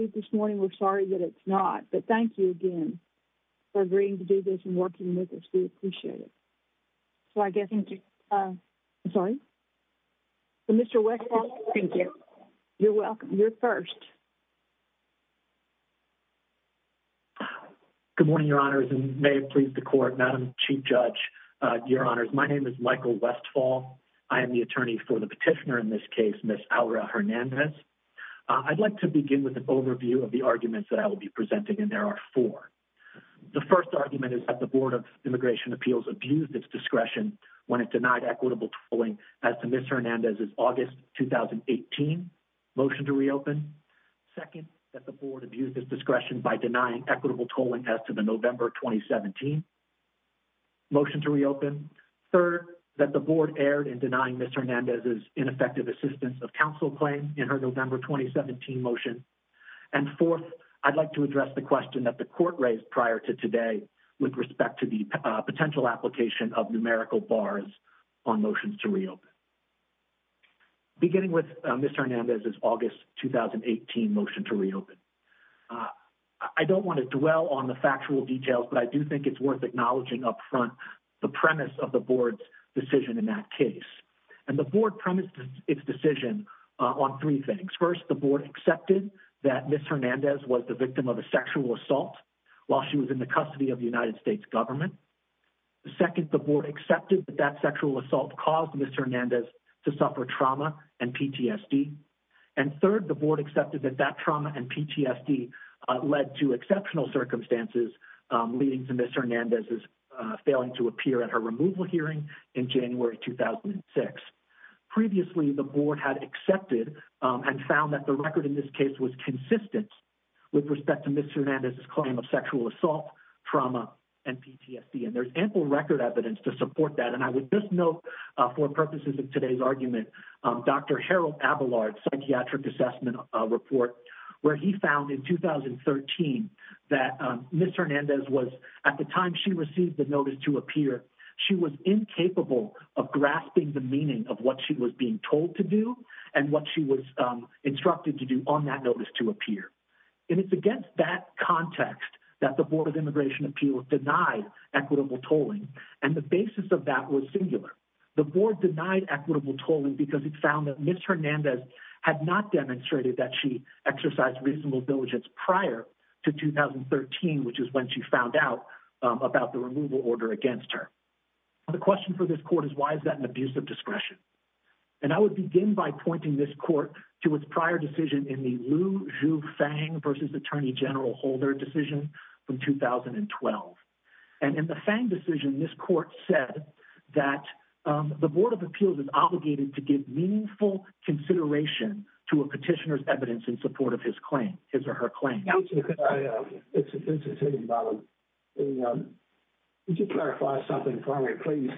Michael Westfall, U.S. Attorney for Petitioner in this case, Ms. Aura Hernandez. I'd like to begin with an overview of the arguments that I will be presenting and there are four. The first argument is that the Board of Immigration Appeals abused its discretion when it denied equitable tolling as to Ms. Hernandez's August 2018 motion to reopen. Second, that the Board abused its discretion by denying equitable tolling as to the November 2017 motion to reopen. Third, that the Board erred in denying Ms. Hernandez's ineffective assistance of And fourth, I'd like to address the question that the court raised prior to today with respect to the potential application of numerical bars on motions to reopen. Beginning with Ms. Hernandez's August 2018 motion to reopen. I don't want to dwell on the factual details, but I do think it's worth acknowledging up front the premise of the Board's decision in that case. And the Board premised its decision on three things. First, the Board accepted that Ms. Hernandez was the victim of a sexual assault while she was in the custody of the United States government. Second, the Board accepted that that sexual assault caused Ms. Hernandez to suffer trauma and PTSD. And third, the Board accepted that that trauma and PTSD led to exceptional Previously, the Board had accepted and found that the record in this case was consistent with respect to Ms. Hernandez's claim of sexual assault, trauma, and PTSD. And there's ample record evidence to support that. And I would just note for purposes of today's argument, Dr. Harold Abelard's psychiatric assessment report, where he found in 2013 that Ms. Hernandez was, at the time she received the notice to appear, she was incapable of grasping the meaning of what she was being told to do and what she was instructed to do on that notice to appear. And it's against that context that the Board of Immigration Appeals denied equitable tolling. And the basis of that was singular. The Board denied equitable tolling because it found that Ms. Hernandez had not demonstrated that she exercised reasonable diligence prior to 2013, which is when she found out about the removal order against her. The question for this court is, why is that an abuse of discretion? And I would begin by pointing this court to its prior decision in the Liu Zhu Fang versus Attorney General Holder decision from 2012. And in the Fang decision, this court said that the Board of Appeals is obligated to give meaningful consideration to a petitioner's evidence in support of his claim, his or her claim. Counselor, could I just clarify something for me, please?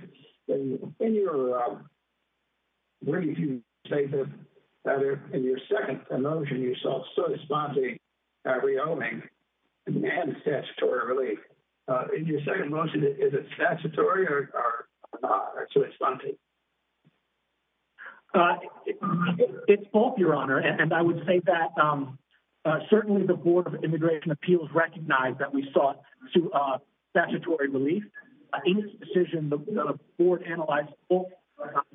In your second motion, you saw so-and-so re-owing and statutory relief. In your second motion, is it statutory or so-and-so? It's both, Your Honor. And I would say that certainly the Board of Immigration Appeals recognized that we sought statutory relief. In this decision, the Board analyzed the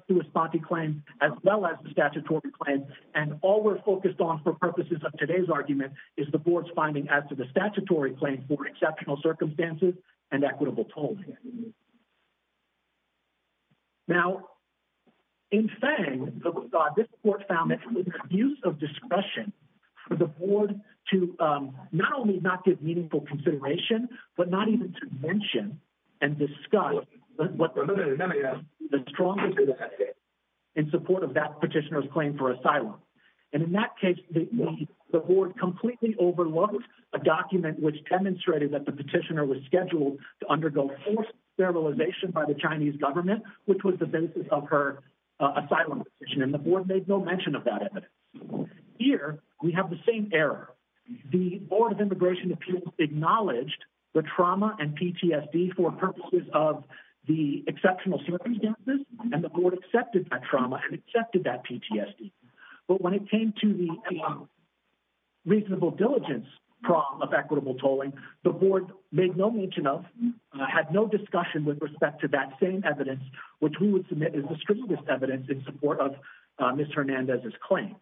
so-and-so claim as well as the statutory claim. And all we're focused on for purposes of today's argument is the Board's finding as to the statutory claim for exceptional circumstances and equitable tolls. Now, in Fang, this court found an abuse of discretion for the Board to not only not give meaningful consideration, but not even to mention and discuss the strongest evidence in support of that petitioner's claim for asylum. And in that case, the Board completely overlooked a document which demonstrated that the petitioner was scheduled to undergo forced sterilization by the Chinese government, which was the basis of her asylum decision, and the Board made no mention of that evidence. Here, we have the same error. The Board of Immigration Appeals acknowledged the trauma and PTSD for purposes of the exceptional circumstances, and the Board accepted that trauma and accepted that PTSD. But when it came to the reasonable diligence problem of equitable tolling, the Board made no mention of, had no discussion with respect to that same evidence, which we would submit as the strongest evidence in support of Ms. Hernandez's claim.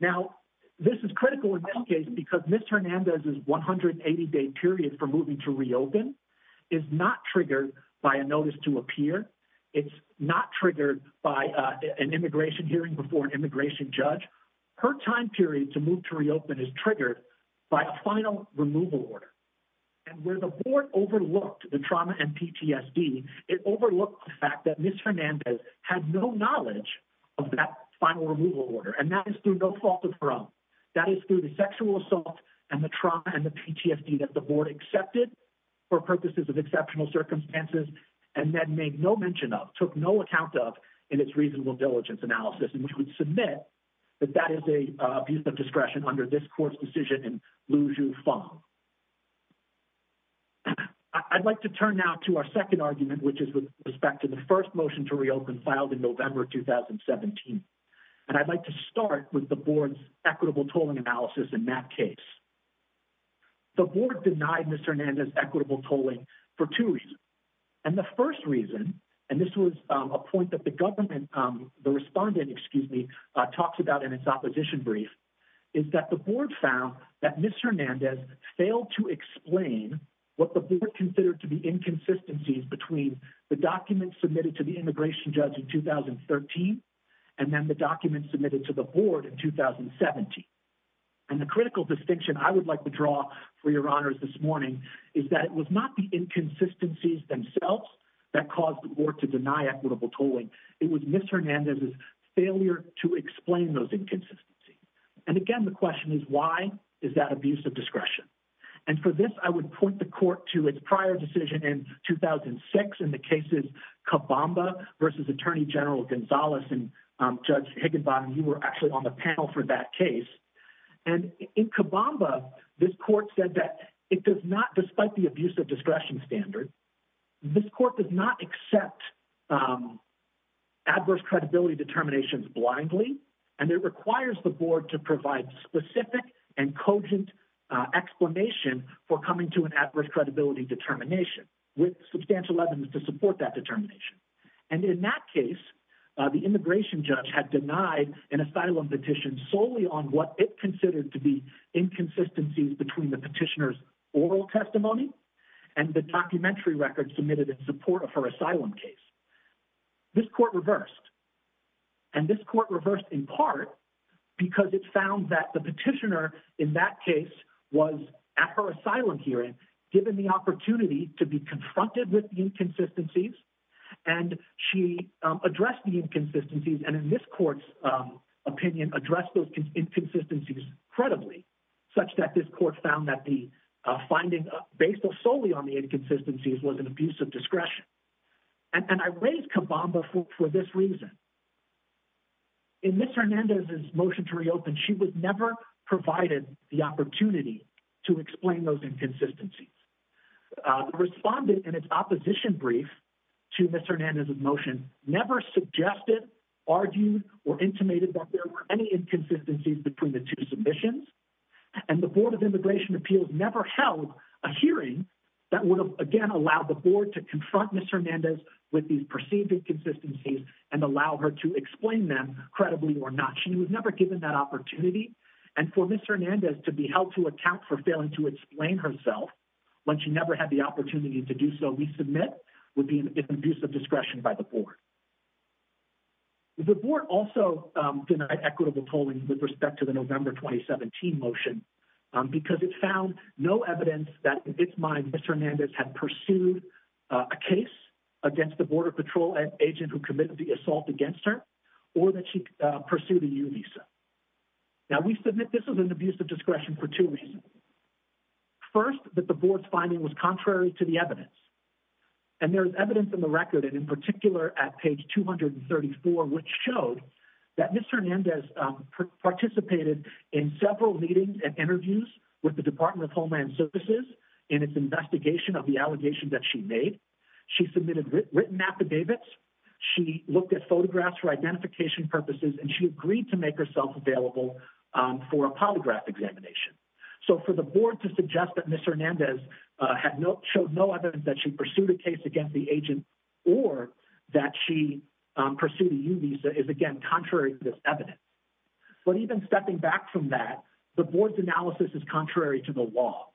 Now, this is critical in this case because Ms. Hernandez's 180-day period for moving to reopen is not triggered by a notice to appear. It's not triggered by an immigration hearing before an immigration judge. Her time period to move to reopen is triggered by a final removal order. And where the Board overlooked the trauma and PTSD, it overlooked the fact that Ms. Hernandez had no knowledge of that final removal order, and that is through no fault of her own. That is through the sexual assault and the trauma and the PTSD that the Board accepted for purposes of exceptional circumstances and then made no mention of, took no account of in its reasonable diligence analysis. And we would submit that that is a piece of discretion under this Court's decision in Liu-Ju Fang. I'd like to turn now to our second argument, which is with respect to the first motion to reopen filed in November 2017. And I'd like to start with the Board's equitable tolling analysis in that case. The Board denied Ms. Hernandez's equitable tolling for two reasons. And the first reason, and this was a point that the government, the respondent, excuse me, talks about in its opposition brief, is that the Board found that Ms. Hernandez failed to explain what the Board considered to be inconsistencies between the documents submitted to the immigration judge in 2013 and then the documents submitted to the Board in 2017. And the critical distinction I would like to draw for your honors this morning is that it was not the inconsistencies themselves that caused the Board to deny equitable tolling. It was Ms. Hernandez's failure to explain those inconsistencies. And again, the question is why is that abuse of discretion? And for this, I would point the Court to its prior decision in 2006 in the cases Cabamba versus Attorney General Gonzalez and Judge Higginbottom, you were actually on the panel for that case. And in Cabamba, this Court said that it does not, despite the abuse of discretion standard, this Court does not accept adverse credibility determinations blindly. And it requires the Board to provide specific and cogent explanation for coming to an adverse credibility determination with substantial evidence to support that determination. And in that case, the immigration judge had denied an asylum petition solely on what it considered to be inconsistencies between the petitioner's oral testimony and the documentary record submitted in support of her asylum case. This Court reversed. And this Court reversed in part because it found that the petitioner in that case was, at her asylum hearing, given the opportunity to be confronted with the inconsistencies. And she addressed the inconsistencies. And in this Court's opinion, addressed those inconsistencies credibly, such that this Court found that the finding based solely on the inconsistencies was an abuse of discretion. And I raise Cabamba for this reason. In Ms. Hernandez's motion to reopen, she was never provided the opportunity to explain those inconsistencies. The respondent in its opposition brief to Ms. Hernandez's motion never suggested, argued, or intimated that there were any inconsistencies between the two submissions. And the Board of Immigration Appeals never held a hearing that would have, again, allowed the Board to confront Ms. Hernandez with these perceived inconsistencies and allow her to explain them credibly or not. She was never given that opportunity. And for Ms. Hernandez to be held to account for failing to explain herself when she never had the opportunity to do so, we submit, would be an abuse of discretion by the Board. The Board also denied equitable tolling with respect to the November 2017 motion because it found no evidence that, in its mind, Ms. Hernandez had pursued a case against the Border Patrol agent who committed the assault against her or that she pursued a U-Visa. Now, we submit this is an abuse of discretion for two reasons. First, that the Board's finding was contrary to the evidence. And there is evidence in the record, and in particular at page 234, which showed that Ms. Hernandez participated in several meetings and interviews with the Department of Homeland Services in its investigation of the allegations that she made. She submitted written affidavits. She looked at photographs for identification purposes, and she agreed to make herself available for a polygraph examination. So for the Board to suggest that Ms. Hernandez showed no evidence that she pursued a case against the agent or that she pursued a U-Visa is, again, contrary to this evidence. But even stepping back from that, the Board's analysis is contrary to the law.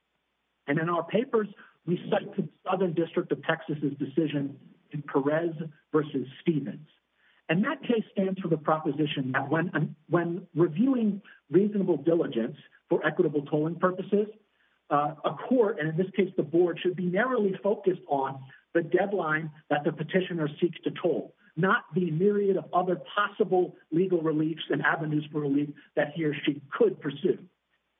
And in our papers, we cite the Southern District of Texas' decision in Perez v. Stevens. And that case stands for the proposition that when reviewing reasonable diligence for equitable tolling purposes, a court, and in this case the Board, should be narrowly focused on the deadline that the petitioner seeks to toll, not the myriad of other possible legal reliefs and avenues for relief that he or she could pursue.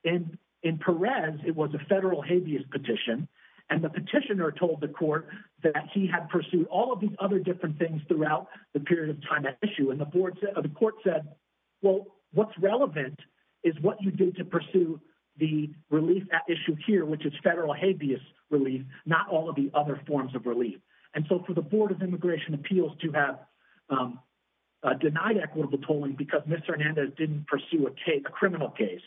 In Perez, it was a federal habeas petition, and the petitioner told the court that he had pursued all of these other different things throughout the period of time at issue. And the court said, well, what's relevant is what you do to pursue the relief at issue here, which is federal habeas relief, not all of the other of relief. And so for the Board of Immigration Appeals to have denied equitable tolling because Ms. Hernandez didn't pursue a criminal case,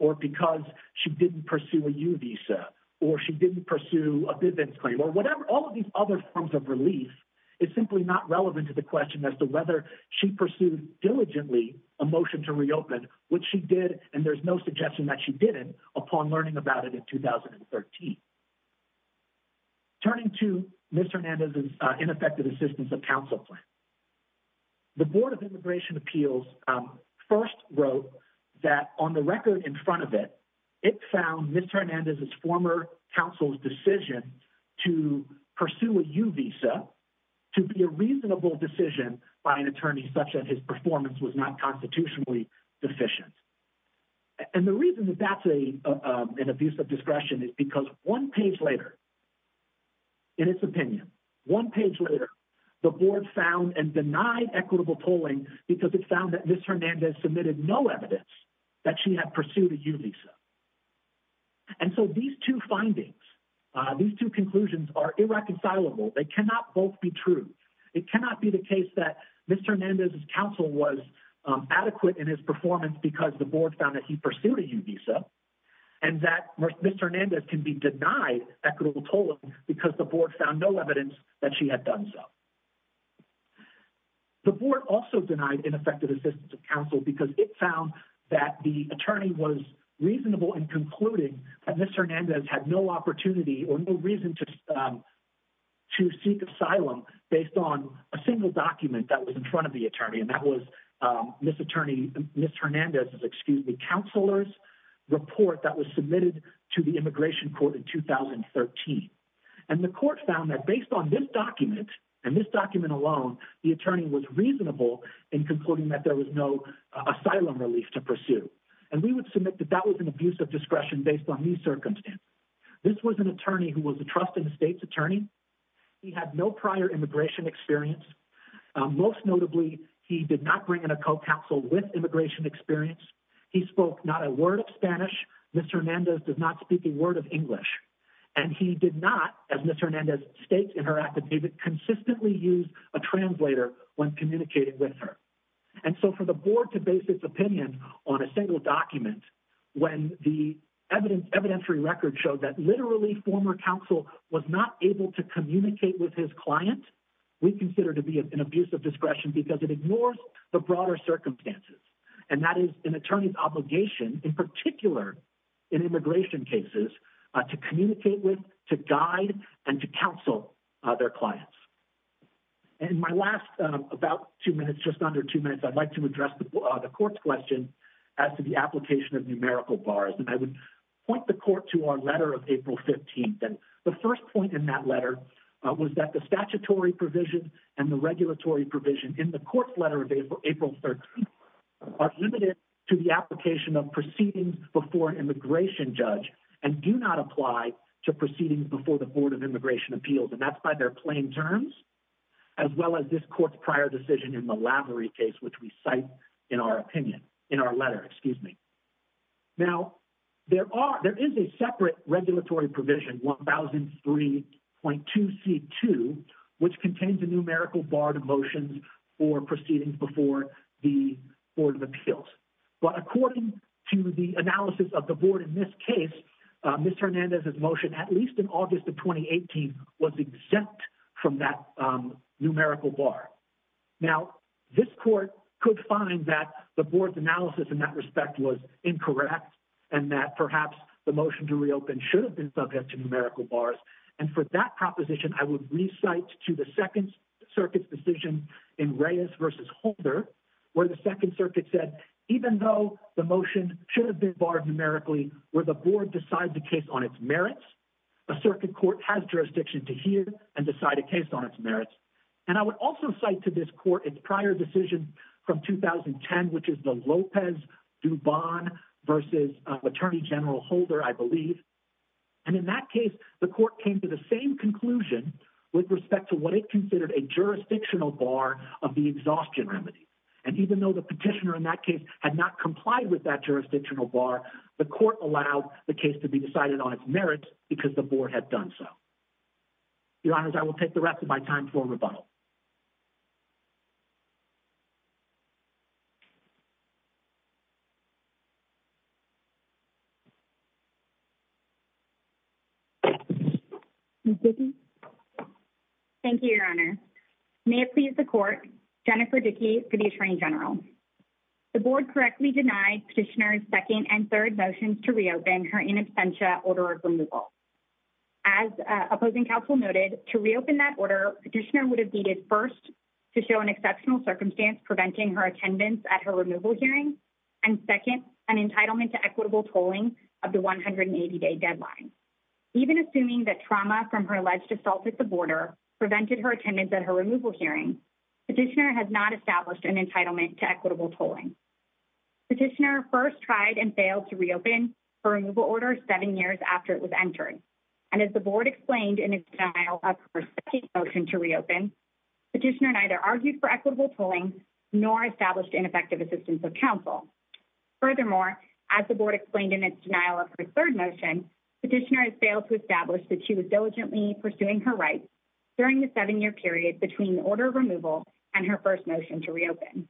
or because she didn't pursue a U-Visa, or she didn't pursue a business claim, or whatever, all of these other forms of relief is simply not relevant to the question as to whether she pursued diligently a motion to reopen, which she did, and there's no suggestion that she didn't, upon learning about it in 2013. Turning to Ms. Hernandez's ineffective assistance of counsel plan, the Board of Immigration Appeals first wrote that on the record in front of it, it found Ms. Hernandez's former counsel's decision to pursue a U-Visa to be a reasonable decision by an attorney such that his performance was not constitutionally deficient. And the reason that that's an abuse of discretion is because one page later, in its opinion, one page later, the Board found and denied equitable tolling because it found that Ms. Hernandez submitted no evidence that she had pursued a U-Visa. And so these two findings, these two conclusions are irreconcilable. They cannot both be true. It cannot be the case that Ms. Hernandez's counsel was adequate in his performance because the Board found that he pursued a U-Visa, and that Ms. Hernandez can be denied equitable tolling because the Board found no evidence that she had done so. The Board also denied ineffective assistance of counsel because it found that the attorney was reasonable in concluding that Ms. Hernandez had pursued an asylum based on a single document that was in front of the attorney, and that was Ms. Hernandez's counselor's report that was submitted to the Immigration Court in 2013. And the Court found that based on this document, and this document alone, the attorney was reasonable in concluding that there was no asylum relief to pursue. And we would submit that that was an abuse of discretion based on these circumstances. This was an attorney who was a trust in the state's prior immigration experience. Most notably, he did not bring in a co-counsel with immigration experience. He spoke not a word of Spanish. Ms. Hernandez does not speak a word of English. And he did not, as Ms. Hernandez states in her affidavit, consistently use a translator when communicating with her. And so for the Board to base its opinion on a single document when the evidentiary record showed that literally former counsel was not able to communicate with his client, we consider to be an abuse of discretion because it ignores the broader circumstances. And that is an attorney's obligation, in particular in immigration cases, to communicate with, to guide, and to counsel their clients. In my last about two minutes, just under two minutes, I'd like to address the Court's question as to the application of numerical bars. And I would point the Court to our letter of April 15th. The first point in that letter was that the statutory provision and the regulatory provision in the Court's letter of April 13th are limited to the application of proceedings before an immigration judge and do not apply to proceedings before the Board of Immigration Appeals. And that's by their plain terms, as well as this Court's prior decision in the Lavery case, which we cite in our opinion, in our letter, excuse me. Now, there is a separate regulatory provision, 1003.2c2, which contains a numerical bar to motions for proceedings before the Board of Appeals. But according to the analysis of the Board in this case, Ms. Hernandez's motion, at least in August of 2018, was exempt from that numerical bar. Now, this Court could find that the Board's analysis in that respect was incorrect, and that perhaps the motion to reopen should have been subject to numerical bars. And for that proposition, I would re-cite to the Second Circuit's decision in Reyes v. Holder, where the Second Circuit said, even though the motion should have been barred numerically, where the Board decides the case on its merits, a circuit court has jurisdiction to hear and decide a case on its merits. And I would also cite to this Court its prior decision from 2010, which is the Lopez-Dubon v. Attorney General I believe. And in that case, the Court came to the same conclusion with respect to what it considered a jurisdictional bar of the exhaustion remedy. And even though the petitioner in that case had not complied with that jurisdictional bar, the Court allowed the case to be decided on its merits because the Board had done so. Your Honors, I will take the rest of my time to a rebuttal. Thank you, Your Honor. May it please the Court, Jennifer Dickey, Attorney General. The Board correctly denied Petitioner's second and third motions to reopen her in absentia order of removal. As opposing counsel noted, to reopen that order, Petitioner would have needed first to show an exceptional circumstance preventing her attendance at her removal hearing, and second, an entitlement to equitable tolling of the 180-day deadline. Even assuming that trauma from her alleged assault at the border prevented her attendance at her removal hearing, Petitioner has not established an entitlement to equitable tolling. Petitioner first tried and failed to reopen her in absentia after it was entered, and as the Board explained in its denial of her second motion to reopen, Petitioner neither argued for equitable tolling nor established ineffective assistance of counsel. Furthermore, as the Board explained in its denial of her third motion, Petitioner has failed to establish that she was diligently pursuing her rights during the seven-year period between order of removal and her first motion to reopen.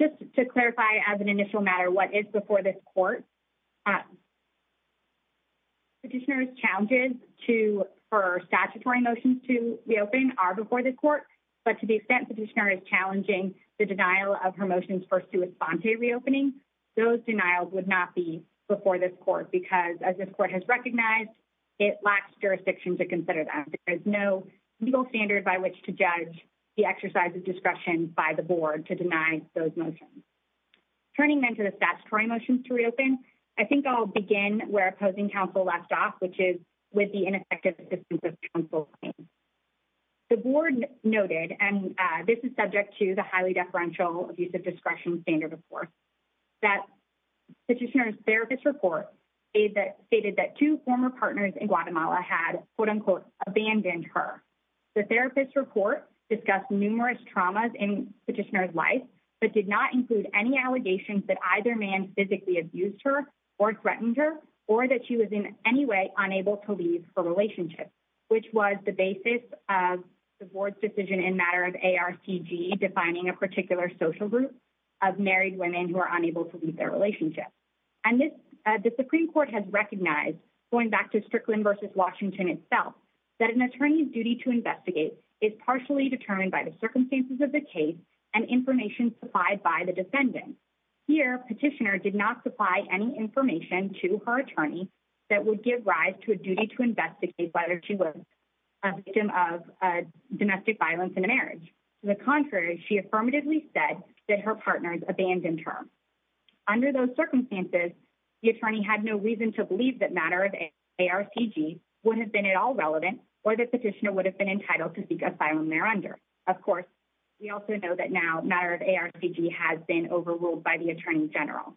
Just to clarify as an initial matter what is before this court, Petitioner's challenges for statutory motions to reopen are before this court, but to the extent Petitioner is challenging the denial of her motions for sua sponte reopening, those denials would not be before this court, because as this court has recognized, it lacks jurisdiction to consider that. There is no legal standard by which to judge the exercise of discretion by the Board to deny those motions. Turning then to the statutory motions to reopen, I think I'll begin where opposing counsel left off, which is with the ineffective assistance of counsel. The Board noted, and this is subject to the highly deferential abuse of discretion standard of course, that Petitioner's therapist report stated that two former partners in Guatemala had quote-unquote abandoned her. The therapist's report discussed numerous traumas in Petitioner's life, but did not include any allegations that either man physically abused her or threatened her, or that she was in any way unable to leave her relationship, which was the basis of the Board's decision in matter of ARCG defining a particular social group of married women who are unable to leave their relationship. The Supreme Court has recognized going back to Strickland v. Washington itself, that an attorney's duty to investigate is partially determined by the circumstances of the case and information supplied by the defendant. Here, Petitioner did not supply any information to her attorney that would give rise to a duty to investigate whether she was a victim of domestic violence in a marriage. To the contrary, she affirmatively said that her partners abandoned her. Under those circumstances, the attorney had no to believe that matter of ARCG would have been at all relevant or that Petitioner would have been entitled to seek asylum there under. Of course, we also know that now matter of ARCG has been overruled by the Attorney General.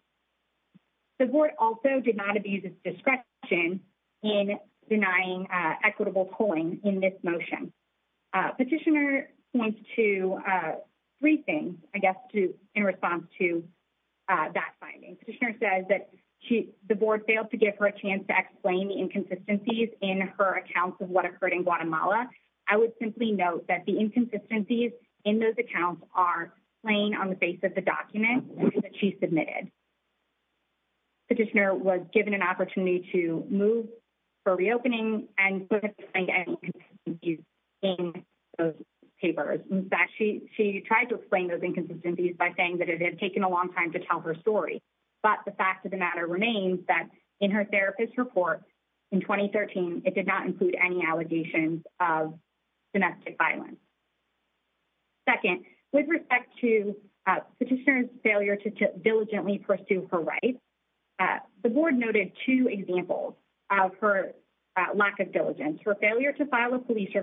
The Board also did not abuse its discretion in denying equitable polling in this motion. Petitioner points to three things, I guess, in response to that finding. Petitioner says that the Board failed to give her a chance to explain the inconsistencies in her accounts of what occurred in Guatemala. I would simply note that the inconsistencies in those accounts are plain on the face of the document that she submitted. Petitioner was given an opportunity to move for reopening and put in those papers. In fact, she tried to explain those inconsistencies by saying that it had taken a long time to tell her story. But the fact of the matter remains that in her therapist report in 2013, it did not include any allegations of domestic violence. Second, with respect to Petitioner's failure to diligently pursue her rights, the Board noted two examples of her lack of diligence, her failure to file a U-Visa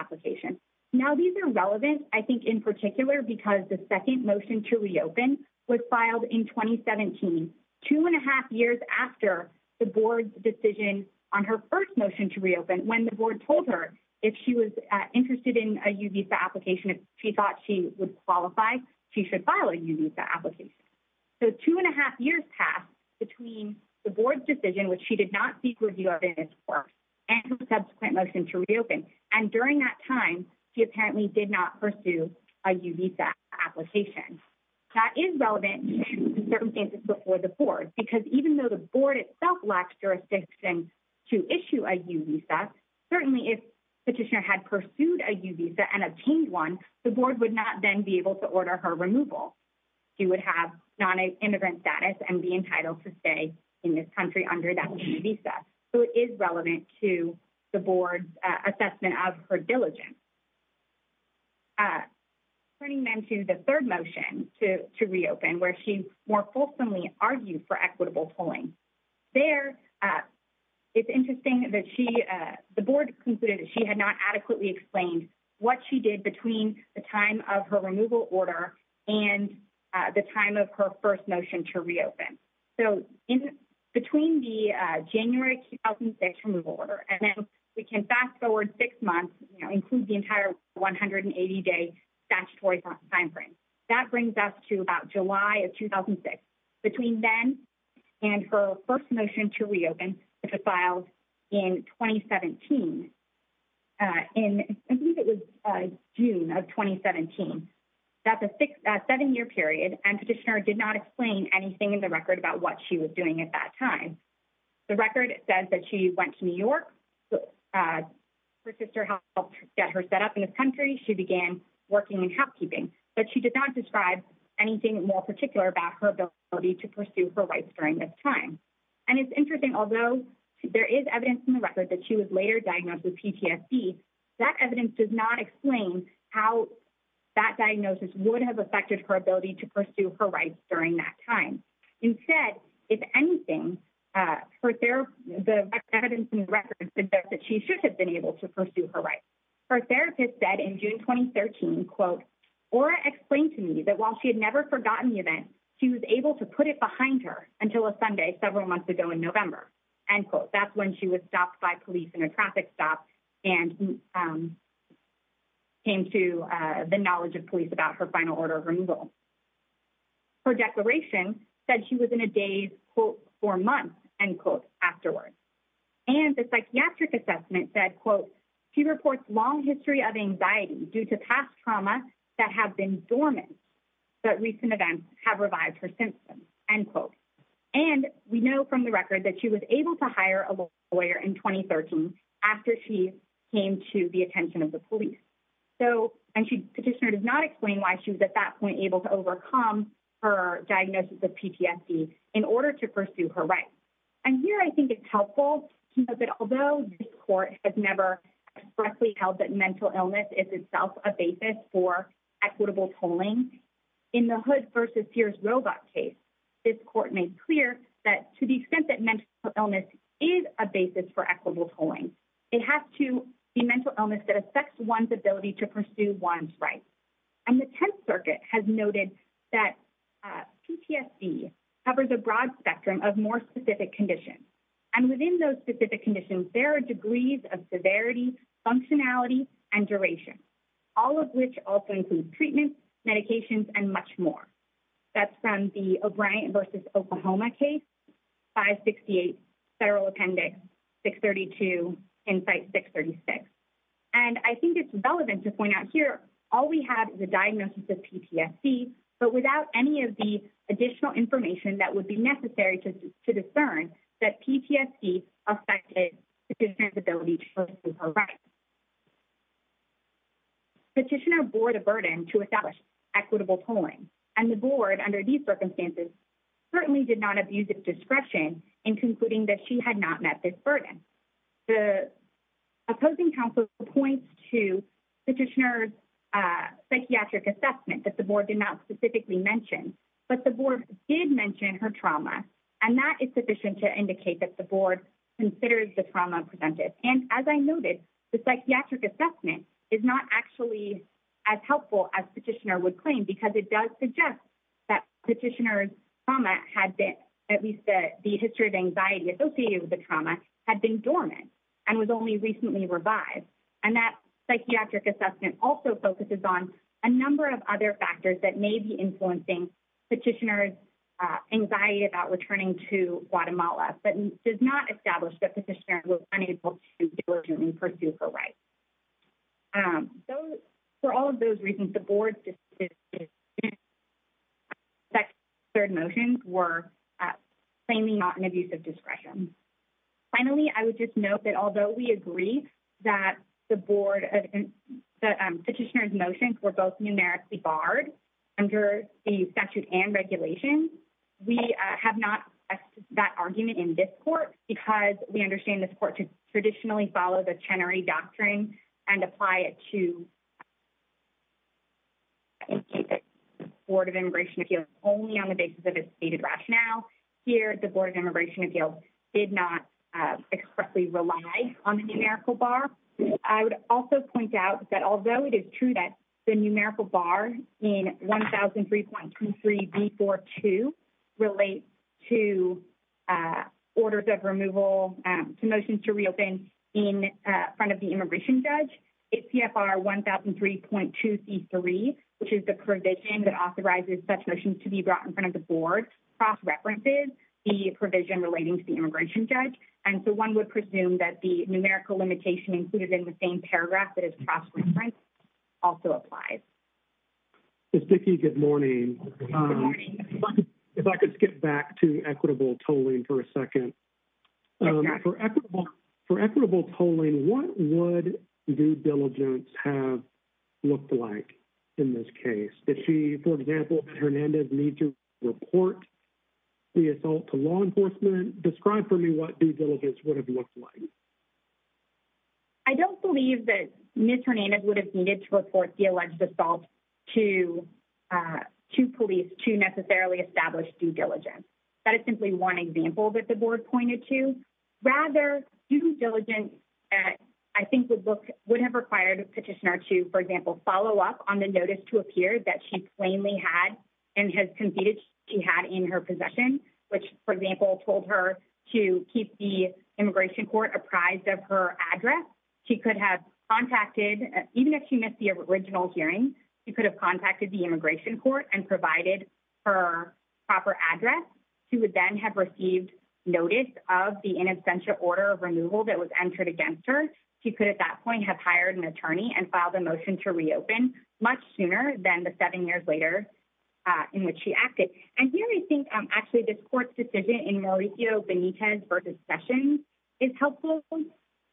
application. These are relevant in particular because the second motion to reopen was filed in 2017, two and a half years after the Board's decision on her first motion to reopen, when the Board told her if she was interested in a U-Visa application, if she thought she would qualify, she should file a U-Visa application. Two and a half years passed between the Board's decision, which she did not seek review of in its course, and her subsequent motion to reopen. And during that time, she apparently did not pursue a U-Visa application. That is relevant in certain cases before the Board, because even though the Board itself lacks jurisdiction to issue a U-Visa, certainly if Petitioner had pursued a U-Visa and obtained one, the Board would not then be able to order her removal. She would have non-immigrant status and be entitled to stay in this country under that U-Visa. So it is relevant to the Board's assessment of her diligence. Turning then to the third motion to reopen, where she more fulsomely argued for equitable tolling. There, it's interesting that she, the Board concluded that she had not adequately explained what she did between the time of her removal order and the time of her first motion to reopen. So in between the January 2006 removal order, and then we can fast forward six months, you know, include the entire 180-day statutory time frame. That brings us to about July of 2006. Between then and her first motion to reopen, which was filed in 2017, I believe it was June of 2017. That's a seven-year period, and Petitioner did not explain anything in the record about what she was doing at that time. The record says that she went to New York. Her sister helped get her set up in this country. She began working in housekeeping, but she did not describe anything more particular about her to pursue her rights during this time. And it's interesting, although there is evidence in the record that she was later diagnosed with PTSD, that evidence does not explain how that diagnosis would have affected her ability to pursue her rights during that time. Instead, if anything, the evidence in the record suggests that she should have been able to pursue her rights. Her therapist said in June 2013, quote, Aura explained to me that while she had never forgotten the event, she was able to put it behind her until a Sunday several months ago in November, end quote. That's when she was stopped by police in a traffic stop and came to the knowledge of police about her final order of removal. Her declaration said she was in a daze, quote, for months, end quote, afterwards. And the psychiatric assessment said, quote, she reports long history of anxiety due to past trauma that have been dormant, but recent events have revived her symptoms, end quote. And we know from the record that she was able to hire a lawyer in 2013 after she came to the attention of the police. So and she petitioner does not explain why she was at that point able to overcome her diagnosis of PTSD in order to that mental illness is itself a basis for equitable tolling. In the Hood versus Pierce Roebuck case, this court made clear that to the extent that mental illness is a basis for equitable tolling, it has to be mental illness that affects one's ability to pursue one's rights. And the Tenth Circuit has noted that PTSD covers a broad spectrum of more specific conditions. And within those specific conditions, there are degrees of severity, functionality, and duration, all of which also includes treatment, medications and much more. That's from the O'Brien versus Oklahoma case, 568 Federal Appendix 632, and site 636. And I think it's relevant to point out here, all we have the diagnosis of PTSD, but without any of the additional information that would be affected the ability to pursue her rights. Petitioner bore the burden to establish equitable tolling, and the board under these circumstances certainly did not abuse its discretion in concluding that she had not met this burden. The opposing counsel points to petitioner's psychiatric assessment that the board did not specifically mention, but the board did mention her trauma. And that is sufficient to indicate that the board considers the trauma presented. And as I noted, the psychiatric assessment is not actually as helpful as petitioner would claim because it does suggest that petitioner's trauma had been at least the history of anxiety associated with the trauma had been dormant and was only recently revived. And that psychiatric assessment also focuses on a number of other factors that may be influencing petitioner's anxiety about returning to Guatemala, but does not establish that petitioner was unable to pursue her rights. So, for all of those reasons, the board's third motions were plainly not an abuse of discretion. Finally, I would just note that although we agree that the petitioner's motions were both numerically barred under the statute and regulation, we have not expressed that argument in this court because we understand this court should traditionally follow the Chenery Doctrine and apply it to Board of Immigration Appeals only on the basis of its stated rationale. Here, the Board of Immigration Appeals, on the numerical bar, I would also point out that although it is true that the numerical bar in 1003.23B42 relates to orders of removal to motions to reopen in front of the immigration judge, CFR 1003.23C3, which is the provision that authorizes such motions to be brought in front of the board, cross-references the provision relating to the immigration judge. So, one would presume that the numerical limitation included in the same paragraph that is cross-referenced also applies. Ms. Dickey, good morning. If I could skip back to equitable tolling for a second. For equitable tolling, what would due diligence have looked like in this case? For example, did Hernandez need to report the assault to law enforcement? Describe for me what due diligence would have looked like. I don't believe that Ms. Hernandez would have needed to report the alleged assault to police to necessarily establish due diligence. That is simply one example that the board pointed to. Rather, due diligence, I think, would have required a petitioner to, for example, follow up on the notice to appear that she plainly and has conceded she had in her possession, which, for example, told her to keep the immigration court apprised of her address. She could have contacted, even if she missed the original hearing, she could have contacted the immigration court and provided her proper address. She would then have received notice of the inabstantial order of removal that was entered against her. She could, at that point, have hired an attorney and filed a motion to reopen much sooner than the seven years later in which she acted. And here, I think, actually, this court's decision in Mauricio Benitez versus Sessions is helpful.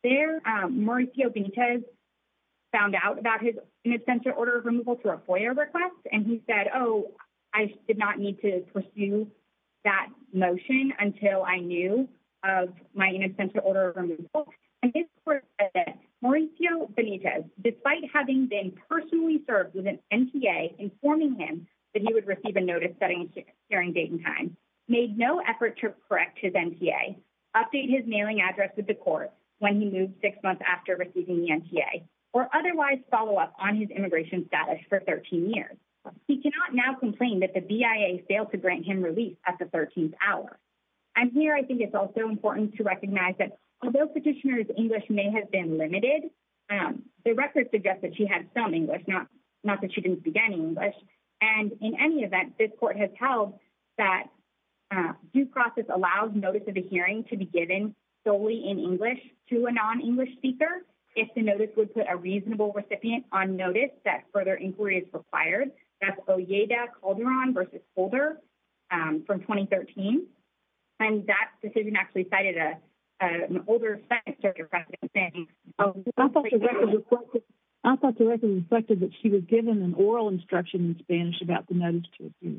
There, Mauricio Benitez found out about his inabstantial order of removal through a FOIA request, and he said, oh, I did not need to pursue that motion until I knew of my inabstantial order of removal. In this court, Mauricio Benitez, despite having been personally served with an NTA informing him that he would receive a notice during date and time, made no effort to correct his NTA, update his mailing address with the court when he moved six months after receiving the NTA, or otherwise follow up on his immigration status for 13 years. He cannot now complain that the BIA failed to grant him release at the 13th hour. And here, I think it's also important to recognize although petitioner's English may have been limited, the record suggests that she had some English, not that she didn't speak any English. And in any event, this court has held that due process allows notice of the hearing to be given solely in English to a non-English speaker, if the notice would put a reasonable recipient on notice that further inquiry is required. That's Olleda Calderon v. Holder from 2013. And that decision actually cited an older Spanish speaker. I thought the record reflected that she was given an oral instruction in Spanish about the notice to appear.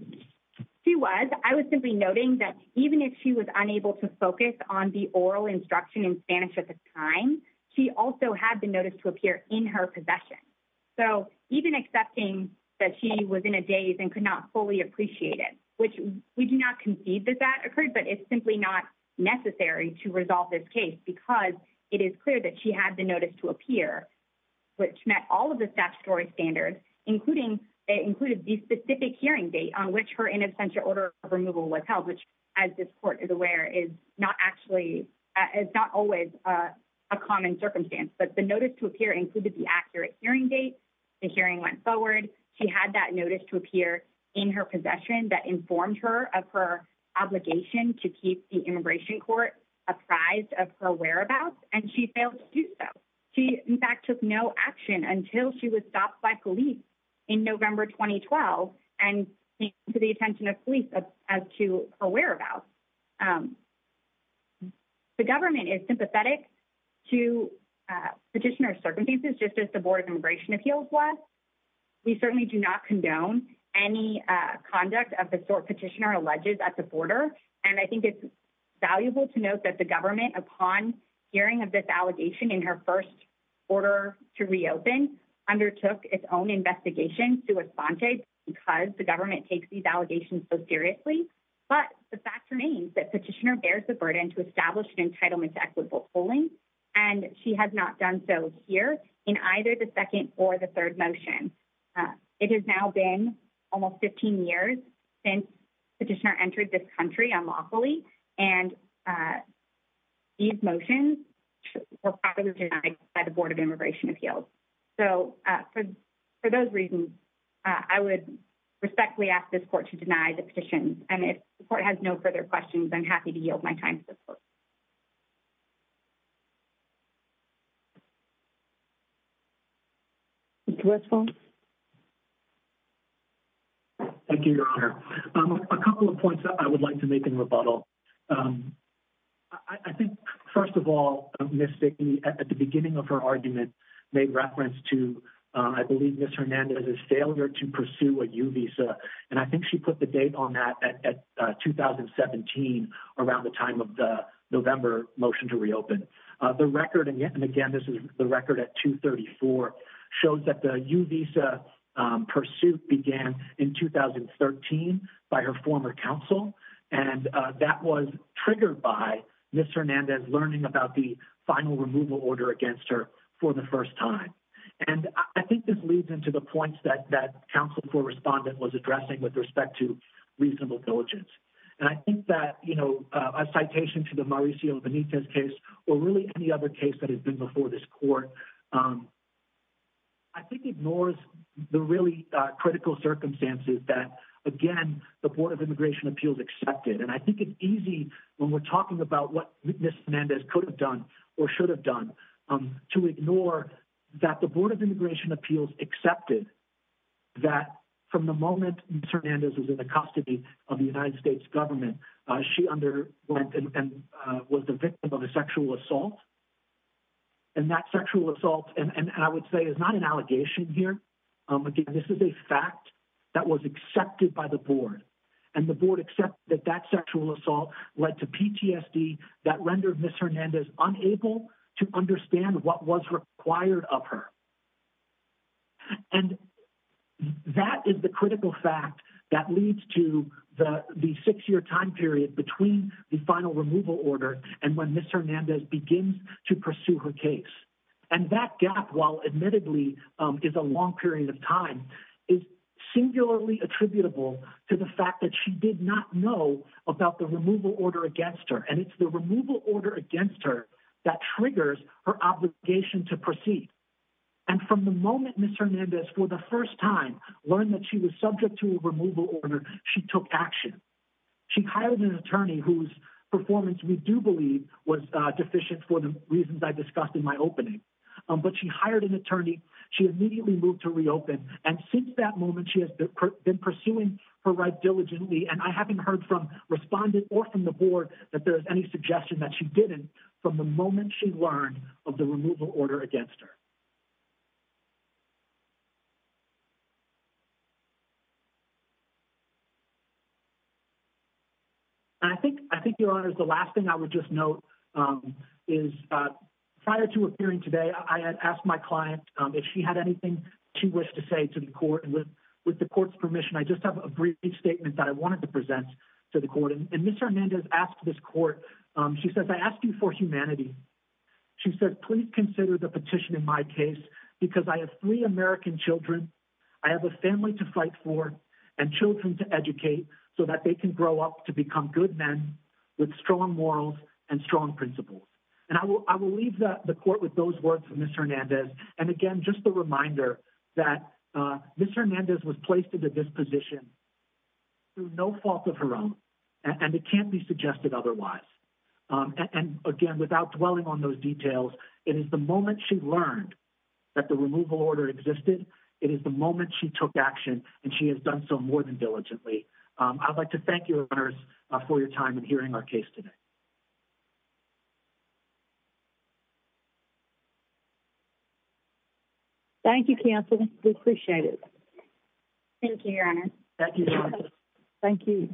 She was. I was simply noting that even if she was unable to focus on the oral instruction in Spanish at the time, she also had the notice to appear in her possession. So, even accepting that she was in a daze and could not fully appreciate it, which we do not concede that that occurred, but it's simply not necessary to resolve this case because it is clear that she had the notice to appear, which met all of the statutory standards, including it included the specific hearing date on which her in absentia order of removal was held, which as this court is aware is not actually, it's not always a common circumstance, but the notice to appear included the accurate hearing date. The hearing went forward. She had that notice to appear in her possession that informed her of her obligation to keep the immigration court apprised of her whereabouts, and she failed to do so. She, in fact, took no action until she was stopped by police in November 2012 and came to the attention of police as to her whereabouts. The government is sympathetic to petitioner circumstances, just as the Board of Immigration Appeals was. We certainly do not condone any conduct of the sort petitioner alleges at the border, and I think it's valuable to note that the government, upon hearing of this allegation in her first order to reopen, undertook its own investigation to respond to it because the government takes these allegations so seriously, but the fact remains that petitioner bears the equitable tolling, and she has not done so here in either the second or the third motion. It has now been almost 15 years since petitioner entered this country unlawfully, and these motions were probably denied by the Board of Immigration Appeals. So for those reasons, I would respectfully ask this court to deny the petitions, and if the court has no further questions, I'm happy to yield my time to this court. Thank you, Your Honor. A couple of points I would like to make in rebuttal. I think, first of all, Ms. Stigney, at the beginning of her argument, made reference to, I believe, Ms. Hernandez's failure to pursue a U visa, and I think she put the date on that at 2017, around the time of the November motion to reopen. The record, and again, this is the record at 2-34, shows that the U visa pursuit began in 2013 by her former counsel, and that was triggered by Ms. Hernandez learning about the final removal order against her for the first time, and I think this leads into the points that counsel for respondent was addressing with respect to reasonable diligence, and I think that, you know, a citation to the Mauricio Benitez case, or really any other case that has been before this court, I think ignores the really critical circumstances that, again, the Board of Immigration Appeals accepted, and I think it's easy when we're talking about what Ms. Hernandez could have done, or should have done, to ignore that the Board of the United States government. She underwent and was the victim of a sexual assault, and that sexual assault, and I would say it's not an allegation here, again, this is a fact that was accepted by the Board, and the Board accepted that that sexual assault led to PTSD that rendered Ms. Hernandez unable to understand what was required of her, and that is the critical fact that leads to the six-year time period between the final removal order and when Ms. Hernandez begins to pursue her case, and that gap, while admittedly is a long period of time, is singularly attributable to the fact that she did not know about the removal order against her, and it's the removal order against her that triggers her obligation to proceed. And from the moment Ms. Hernandez, for the first time, learned that she was subject to a removal order, she took action. She hired an attorney whose performance we do believe was deficient for the reasons I discussed in my opening, but she hired an attorney, she immediately moved to reopen, and since that moment she has been pursuing her right diligently, and I haven't heard from respondents or from the Board that there is any suggestion that she didn't from the moment she learned of the removal order against her. And I think, Your Honors, the last thing I would just note is, prior to appearing today, I had asked my client if she had anything she wished to say to the Court, and with the Court's permission, I just have a brief statement that I wanted to present to the Court, and Ms. Hernandez asked this Court, she said, I ask you for humanity. She said, please consider the petition in my case because I have three American children, I have a family to fight for, and children to educate so that they can grow up to become good men with strong morals and strong principles. And I will leave the Court with those words from Ms. Hernandez, and again, just a reminder that Ms. Hernandez was placed into this position through no fault of her own, and it can't be suggested otherwise. And again, without dwelling on those details, it is the moment she learned that the removal order existed, it is the moment she took action, and she has done so more than diligently. I would like to thank you, Your Honors, for your time in hearing our case today. Thank you, counsel. We appreciate it. Thank you, Your Honor. Thank you, counsel. Thank you.